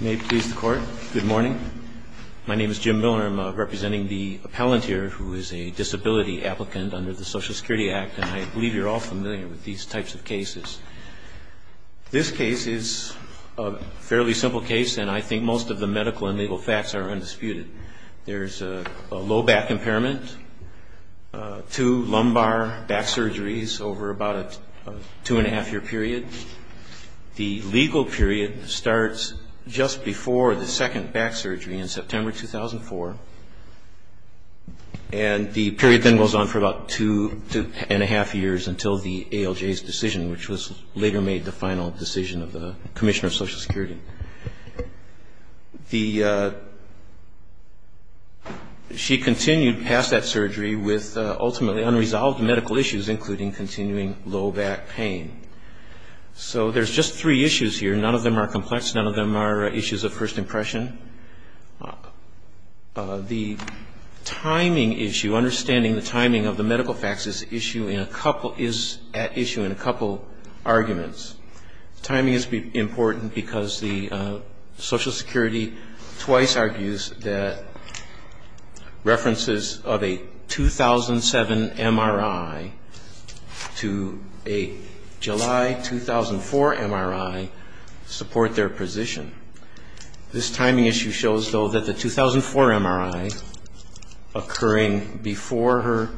May it please the court. Good morning. My name is Jim Miller. I'm representing the appellant here who is a disability applicant under the Social Security Act, and I believe you're all familiar with these types of cases. This case is a fairly simple case, and I think most of the medical and legal facts are undisputed. There's a low back impairment, two lumbar back surgeries over about a two and a half year period. The legal period starts just before the second back surgery in September 2004, and the period then goes on for about two and a half years until the ALJ's decision, which was later made the final decision of the Commissioner of Social Security. She continued past that surgery with ultimately unresolved medical issues, including continuing low back pain. So there's just three issues here. None of them are complex. None of them are issues of first impression. The timing issue, understanding the timing of the medical facts is at issue in a couple arguments. Timing is important because the Social Security twice argues that references of a 2007 MRI to a July 2004 MRI support their position. This timing issue shows, though, that the 2004 MRI occurring before her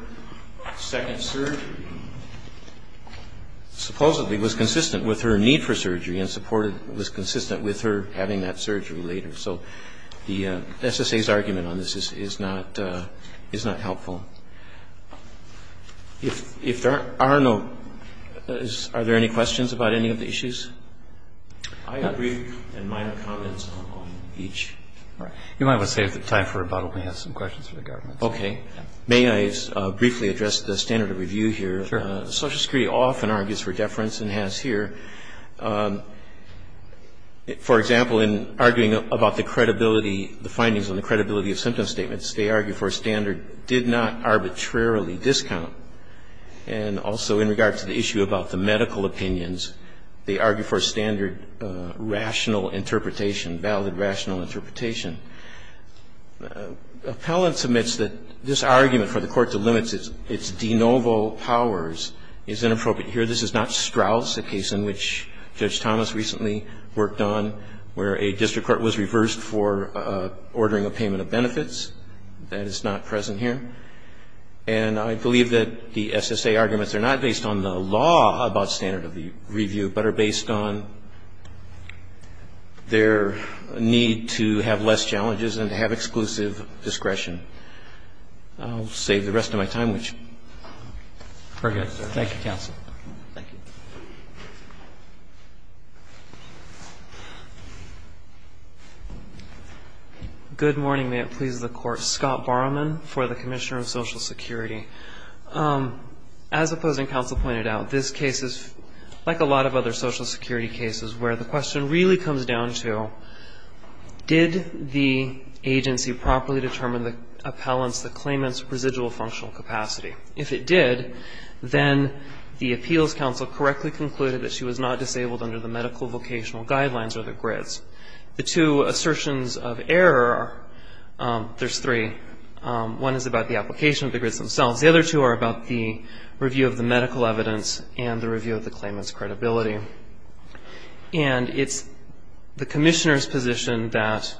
second surgery supposedly was consistent with her need for surgery and was consistent with her having that surgery later. So the SSA's argument on this is not helpful. If there are no, are there any questions about any of the issues? I have brief and minor comments on each. You might want to save the time for rebuttal. We have some questions for the government. Okay. May I briefly address the standard of review here? Sure. The Social Security often argues for deference and has here. For example, in arguing about the credibility, the findings on the credibility of symptom statements, they argue for a standard, did not arbitrarily discount. And also in regard to the issue about the medical opinions, they argue for standard rational interpretation, valid rational interpretation. Appellants admits that this argument for the court to limit its de novo powers is inappropriate here. This is not Strauss, a case in which Judge Thomas recently worked on, where a district court was reversed for ordering a payment of benefits. That is not present here. And I believe that the SSA arguments are not based on the law about standard of review, but are based on their need to have less challenges and to have exclusive discretion. I'll save the rest of my time. Very good. Thank you, counsel. Thank you. Good morning. May it please the Court. Scott Borrowman for the Commissioner of Social Security. As opposing counsel pointed out, this case is like a lot of other Social Security cases where the question really comes down to, did the agency properly determine the appellant's, the claimant's residual functional capacity? If it did, then the appeals counsel correctly concluded that she was not disabled under the medical vocational guidelines or the GRIDs. The two assertions of error, there's three. One is about the application of the GRIDs themselves. The other two are about the review of the medical evidence and the review of the claimant's credibility. And it's the Commissioner's position that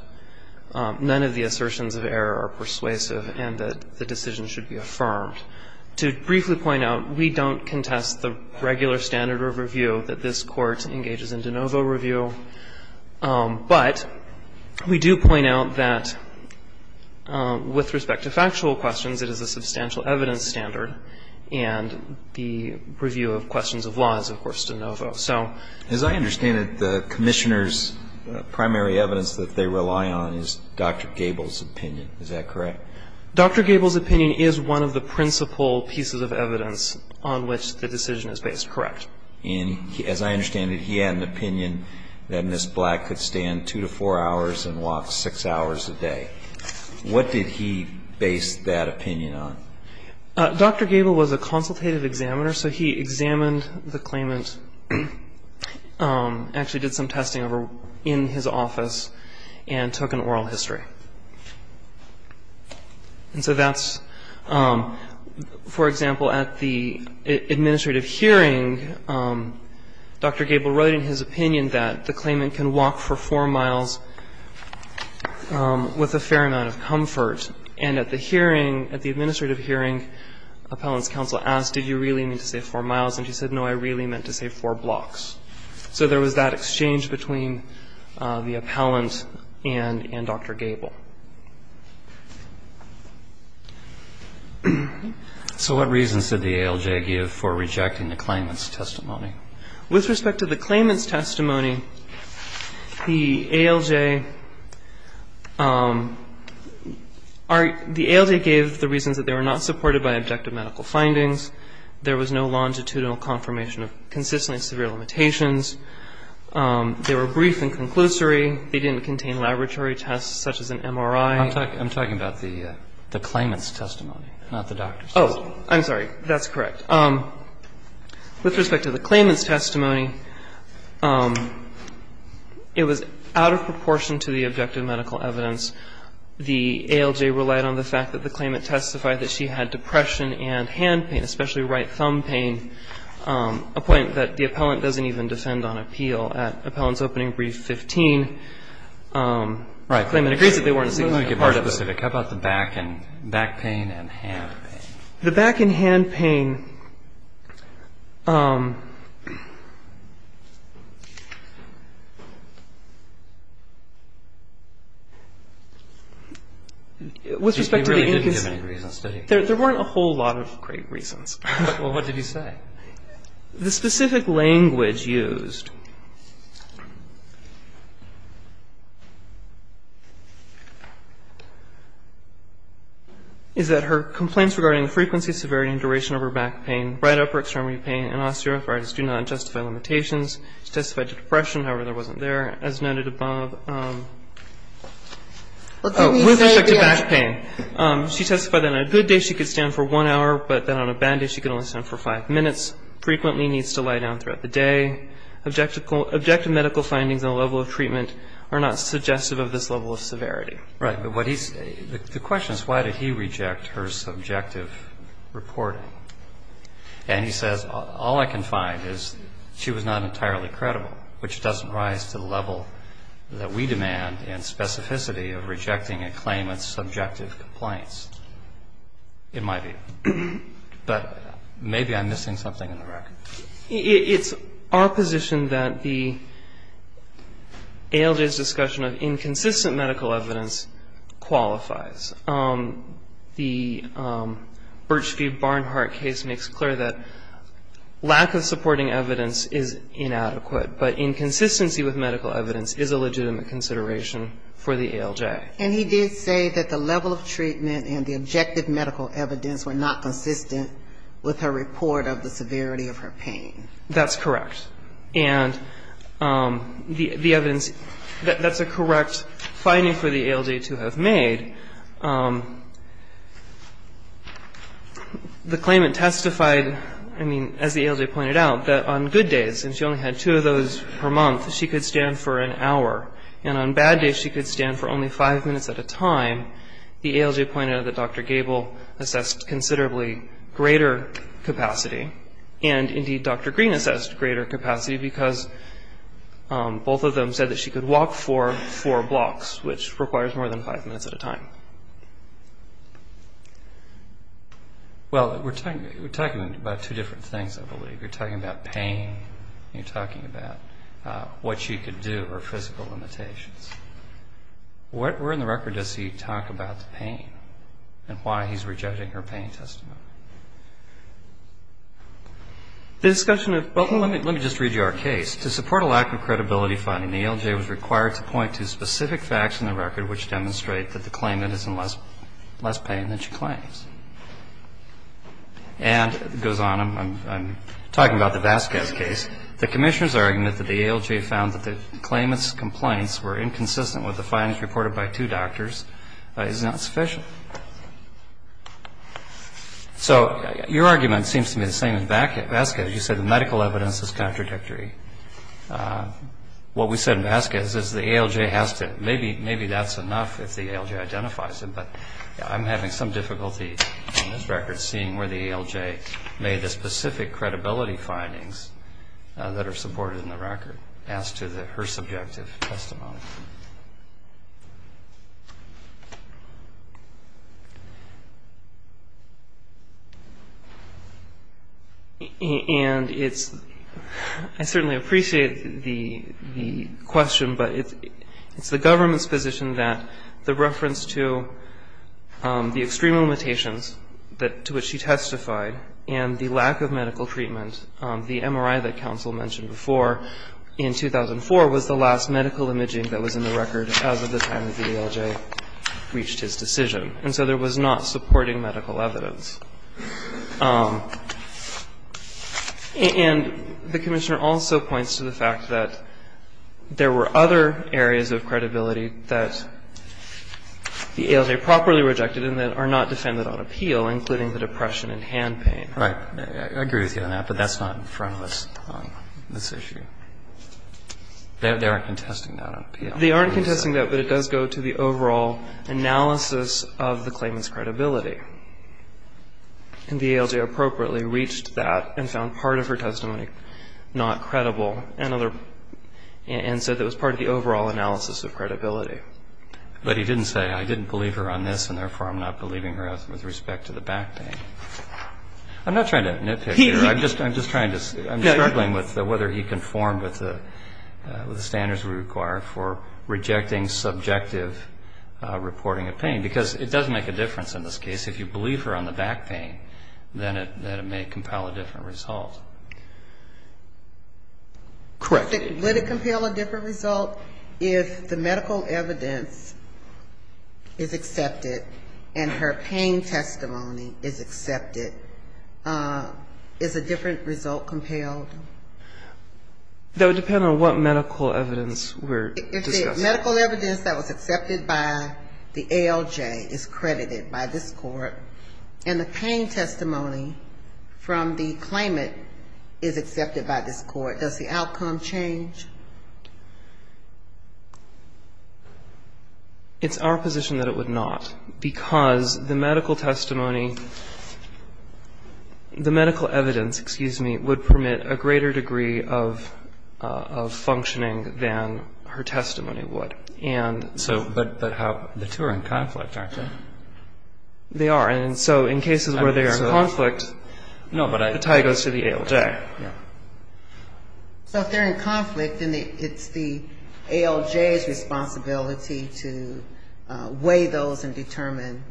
none of the assertions of error are persuasive and that the decision should be affirmed. To briefly point out, we don't contest the regular standard of review that this Court engages in de novo review. But we do point out that with respect to factual questions, it is a substantial evidence standard, and the review of questions of law is, of course, de novo. So as I understand it, the Commissioner's primary evidence that they rely on is Dr. Gable's opinion. Is that correct? Dr. Gable's opinion is one of the principal pieces of evidence on which the decision is based. Correct. And as I understand it, he had an opinion that Ms. Black could stand two to four hours and walk six hours a day. What did he base that opinion on? Dr. Gable was a consultative examiner, so he examined the claimant, actually did some testing in his office, and took an oral history. And so that's, for example, at the administrative hearing, Dr. Gable wrote in his opinion that the claimant can walk for four miles with a fair amount of comfort. And at the hearing, at the administrative hearing, appellant's counsel asked, did you really mean to say four miles? And she said, no, I really meant to say four blocks. So there was that exchange between the appellant and Dr. Gable. So what reasons did the ALJ give for rejecting the claimant's testimony? With respect to the claimant's testimony, the ALJ, the ALJ gave the reasons that they were not supported by objective medical findings. There was no longitudinal confirmation of consistently severe limitations. They were brief and conclusory. They didn't contain laboratory tests such as an MRI. I'm talking about the claimant's testimony, not the doctor's testimony. Oh, I'm sorry. That's correct. With respect to the claimant's testimony, it was out of proportion to the objective medical evidence. The ALJ relied on the fact that the claimant testified that she had depression and hand pain, especially right thumb pain, a point that the appellant doesn't even defend on appeal. At appellant's opening brief 15, the claimant agrees that they weren't a significant part of it. Right. Let me get more specific. How about the back pain and hand pain? The back and hand pain... We really didn't give any reasons, did we? There weren't a whole lot of great reasons. Well, what did you say? The specific language used... Is that her complaints regarding frequency, severity and duration of her back pain, right upper extremity pain and osteoarthritis do not justify limitations. She testified to depression, however, that wasn't there. As noted above... Oh, with respect to back pain. She testified that on a good day she could stand for one hour, but that on a bad day she could only stand for five minutes, frequently needs to lie down throughout the day. Objective medical findings on the level of treatment are not suggestive of this level of severity. Right. The question is why did he reject her subjective reporting? And he says all I can find is she was not entirely credible, which doesn't rise to the level that we demand in specificity of rejecting a claimant's subjective complaints, in my view. But maybe I'm missing something in the record. It's our position that the ALJ's discussion of inconsistent medical evidence qualifies. The Birchfield-Barnhart case makes clear that lack of supporting evidence is inadequate, but inconsistency with medical evidence is a legitimate consideration for the ALJ. And he did say that the level of treatment and the objective medical evidence were not consistent with her report of the severity of her pain. That's correct. And the evidence, that's a correct finding for the ALJ to have made. The claimant testified, I mean, as the ALJ pointed out, that on good days, and she only had two of those per month, she could stand for an hour. And on bad days she could stand for only five minutes at a time. The ALJ pointed out that Dr. Gable assessed considerably greater capacity, and indeed Dr. Green assessed greater capacity, because both of them said that she could walk for four blocks, which requires more than five minutes at a time. Well, we're talking about two different things, I believe. You're talking about pain and you're talking about what she could do or physical limitations. Where in the record does he talk about the pain and why he's rejecting her pain testimony? The discussion of, well, let me just read you our case. To support a lack of credibility finding, the ALJ was required to point to specific facts in the record which demonstrate that the claimant is in less pain than she claims. And it goes on, I'm talking about the Vasquez case, the Commissioner's argument that the ALJ found that the claimant's complaints were inconsistent with the findings reported by two doctors is not sufficient. So your argument seems to me the same as Vasquez. You said the medical evidence is contradictory. What we said in Vasquez is the ALJ has to, maybe that's enough if the ALJ identifies it, but I'm having some difficulty in this record seeing where the ALJ made the record as to her subjective testimony. And it's, I certainly appreciate the question, but it's the government's position that the reference to the extreme limitations to which she testified and the lack of medical treatment, the MRI that counsel mentioned before, in 2004 was the last medical imaging that was in the record as of the time that the ALJ reached his decision. And so there was not supporting medical evidence. And the Commissioner also points to the fact that there were other areas of credibility that the ALJ properly rejected and that are not defended on appeal, including the depression and hand pain. Right. I agree with you on that, but that's not in front of us on this issue. They aren't contesting that on appeal. They aren't contesting that, but it does go to the overall analysis of the claimant's credibility. And the ALJ appropriately reached that and found part of her testimony not credible and other, and so that was part of the overall analysis of credibility. But he didn't say I didn't believe her on this and therefore I'm not believing her with respect to the back pain. I'm not trying to nitpick here. I'm just trying to, I'm struggling with whether he conformed with the standards we require for rejecting subjective reporting of pain because it does make a difference in this case. If you believe her on the back pain, then it may compel a different result. Correct. Would it compel a different result if the medical evidence is accepted and her pain testimony is accepted? Is a different result compelled? That would depend on what medical evidence we're discussing. If the medical evidence that was accepted by the ALJ is credited by this court and the pain testimony from the claimant is accepted by this court, does the medical evidence change? It's our position that it would not because the medical testimony, the medical evidence, excuse me, would permit a greater degree of functioning than her testimony would. But the two are in conflict, aren't they? They are. And so in cases where they are in conflict, the tie goes to the ALJ. So if they're in conflict, then it's the ALJ's responsibility to weigh those and determine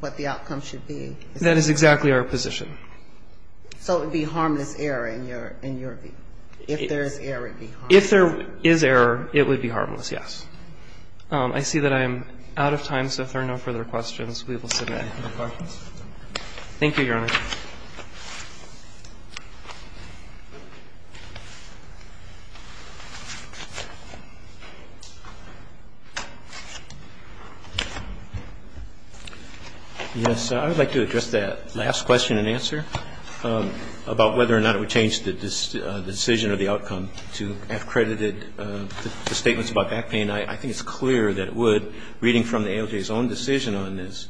what the outcome should be. That is exactly our position. So it would be harmless error in your view? If there is error, it would be harmless. If there is error, it would be harmless, yes. I see that I am out of time, so if there are no further questions, we will submit. Thank you, Your Honor. Yes, I would like to address that last question and answer about whether or not it would change the decision or the outcome to have credited the statements about back pain. I think it's clear that it would. Reading from the ALJ's own decision on this,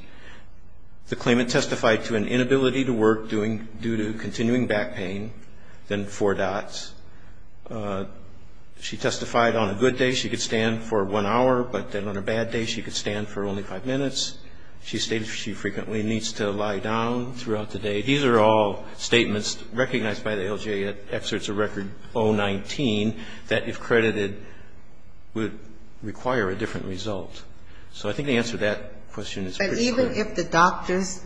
the claimant testified to an inability to work due to continuing back pain, then four dots. She testified on a good day she could stand for one hour, but then on a bad day she could stand for only five minutes. She stated she frequently needs to lie down throughout the day. These are all statements recognized by the ALJ at excerpts of Record 019 that, if credited, would require a different result. So I think the answer to that question is pretty clear. Even if the doctors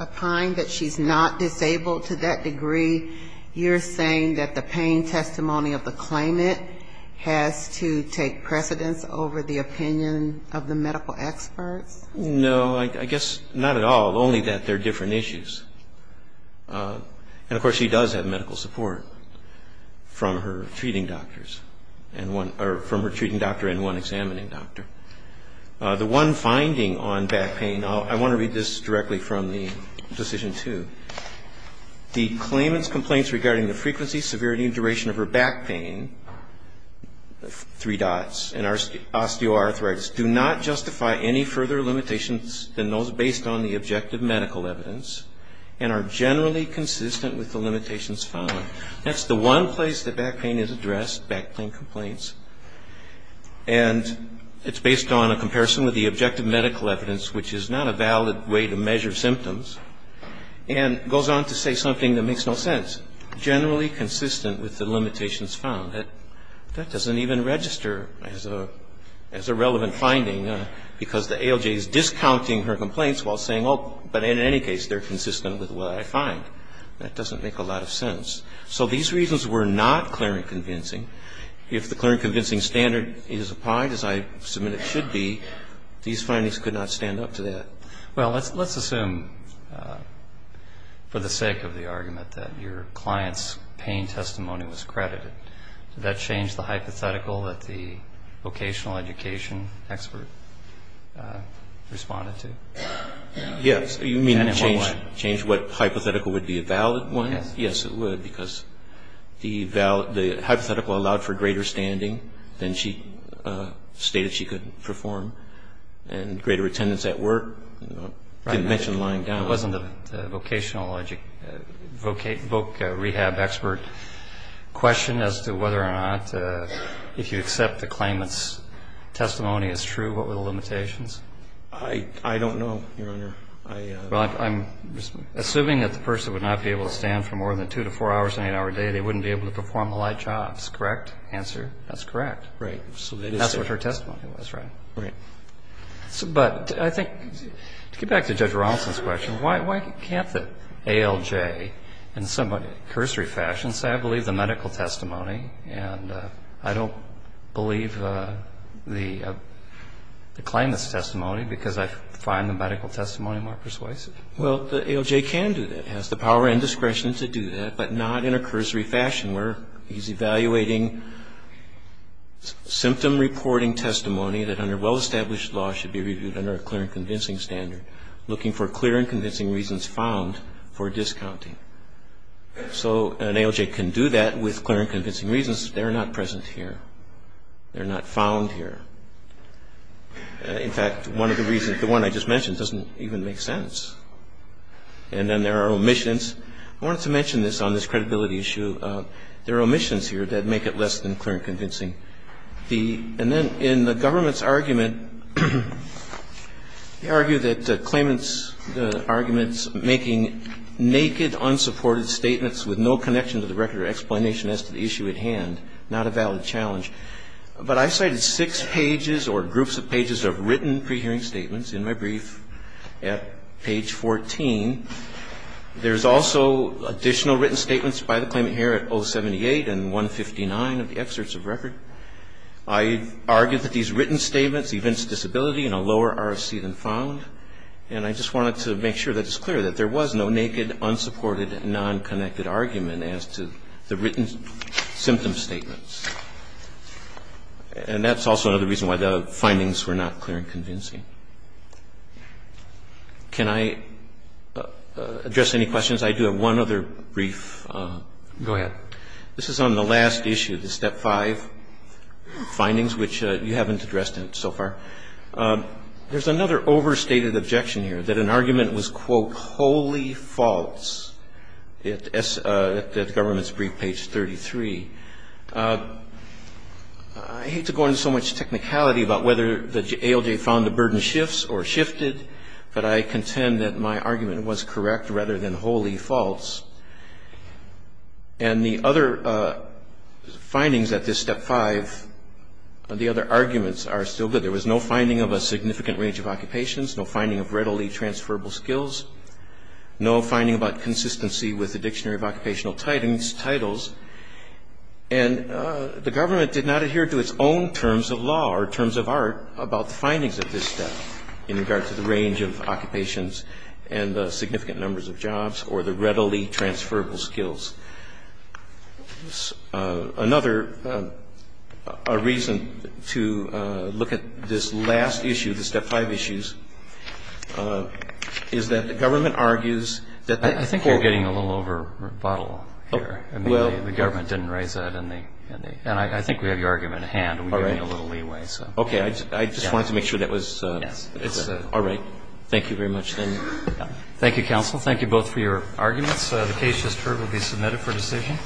opine that she's not disabled to that degree, you're saying that the pain testimony of the claimant has to take precedence over the opinion of the medical experts? No, I guess not at all, only that they're different issues. And, of course, she does have medical support from her treating doctors and one or from her treating doctor and one examining doctor. The one finding on back pain, I want to read this directly from the decision, too. The claimant's complaints regarding the frequency, severity, and duration of her back pain, three dots, and osteoarthritis, do not justify any further limitations than those based on the objective medical evidence and are generally consistent with the limitations found. That's the one place that back pain is addressed, back pain complaints. And it's based on a comparison with the objective medical evidence, which is not a valid way to measure symptoms, and goes on to say something that makes no sense, generally consistent with the limitations found. That doesn't even register as a relevant finding because the ALJ is discounting her complaints while saying, oh, but in any case, they're consistent with what I find. That doesn't make a lot of sense. So these reasons were not clear and convincing. If the clear and convincing standard is applied, as I submit it should be, these findings could not stand up to that. Well, let's assume, for the sake of the argument, that your client's pain testimony was credited. Did that change the hypothetical that the vocational education expert responded to? Yes. You mean change what hypothetical would be a valid one? Yes. Yes, it would because the hypothetical allowed for greater standing than she stated she could perform and greater attendance at work. Right. Didn't mention lying down. It wasn't a vocational, voc rehab expert question as to whether or not if you accept the claimant's testimony as true, what were the limitations? I don't know, Your Honor. Well, I'm assuming that the person would not be able to stand for more than two to four hours in an eight-hour day. They wouldn't be able to perform the light jobs. Correct answer? That's correct. Right. That's what her testimony was, right? Right. But I think, to get back to Judge Ronaldson's question, why can't the ALJ in some cursory fashion say, I believe the medical testimony and I don't believe the claimant's testimony because I find the medical testimony more persuasive? Well, the ALJ can do that. It has the power and discretion to do that, but not in a cursory fashion where he's evaluating symptom reporting testimony that under well-established law should be reviewed under a clear and convincing standard, looking for clear and convincing reasons found for discounting. So an ALJ can do that with clear and convincing reasons. They're not present here. They're not found here. In fact, one of the reasons, the one I just mentioned doesn't even make sense. And then there are omissions. I wanted to mention this on this credibility issue. There are omissions here that make it less than clear and convincing. And then in the government's argument, they argue that the claimant's arguments making naked, unsupported statements with no connection to the record or explanation as to the issue at hand, not a valid challenge. But I cited six pages or groups of pages of written pre-hearing statements in my brief at page 14. There's also additional written statements by the claimant here at 078 and 159 of the excerpts of record. I argued that these written statements evince disability in a lower RFC than found. And I just wanted to make sure that it's clear that there was no naked, unsupported, non-connected argument as to the written symptom statements. And that's also another reason why the findings were not clear and convincing. Can I address any questions? I do have one other brief. Go ahead. This is on the last issue, the Step 5 findings, which you haven't addressed so far. There's another overstated objection here, that an argument was, quote, wholly false at the government's brief, page 33. I hate to go into so much technicality about whether the ALJ found the burden shifts or shifted, but I contend that my argument was correct rather than wholly false. And the other findings at this Step 5, the other arguments are still good. There was no finding of a significant range of occupations, no finding of readily transferable skills, no finding about consistency with the Dictionary of Occupational Titles. And the government did not adhere to its own terms of law or terms of art about the findings of this step in regard to the range of occupations and the significant numbers of jobs or the readily transferable skills. Another reason to look at this last issue, the Step 5 issues, is that the government argues that the court I think you're getting a little over a bottle here. Well. I mean, the government didn't raise that, and I think we have your argument at hand. All right. We need a little leeway, so. Okay. I just wanted to make sure that was. Yes. All right. Thank you very much, then. Thank you, counsel. Thank you both for your arguments. The case just heard will be submitted for decision.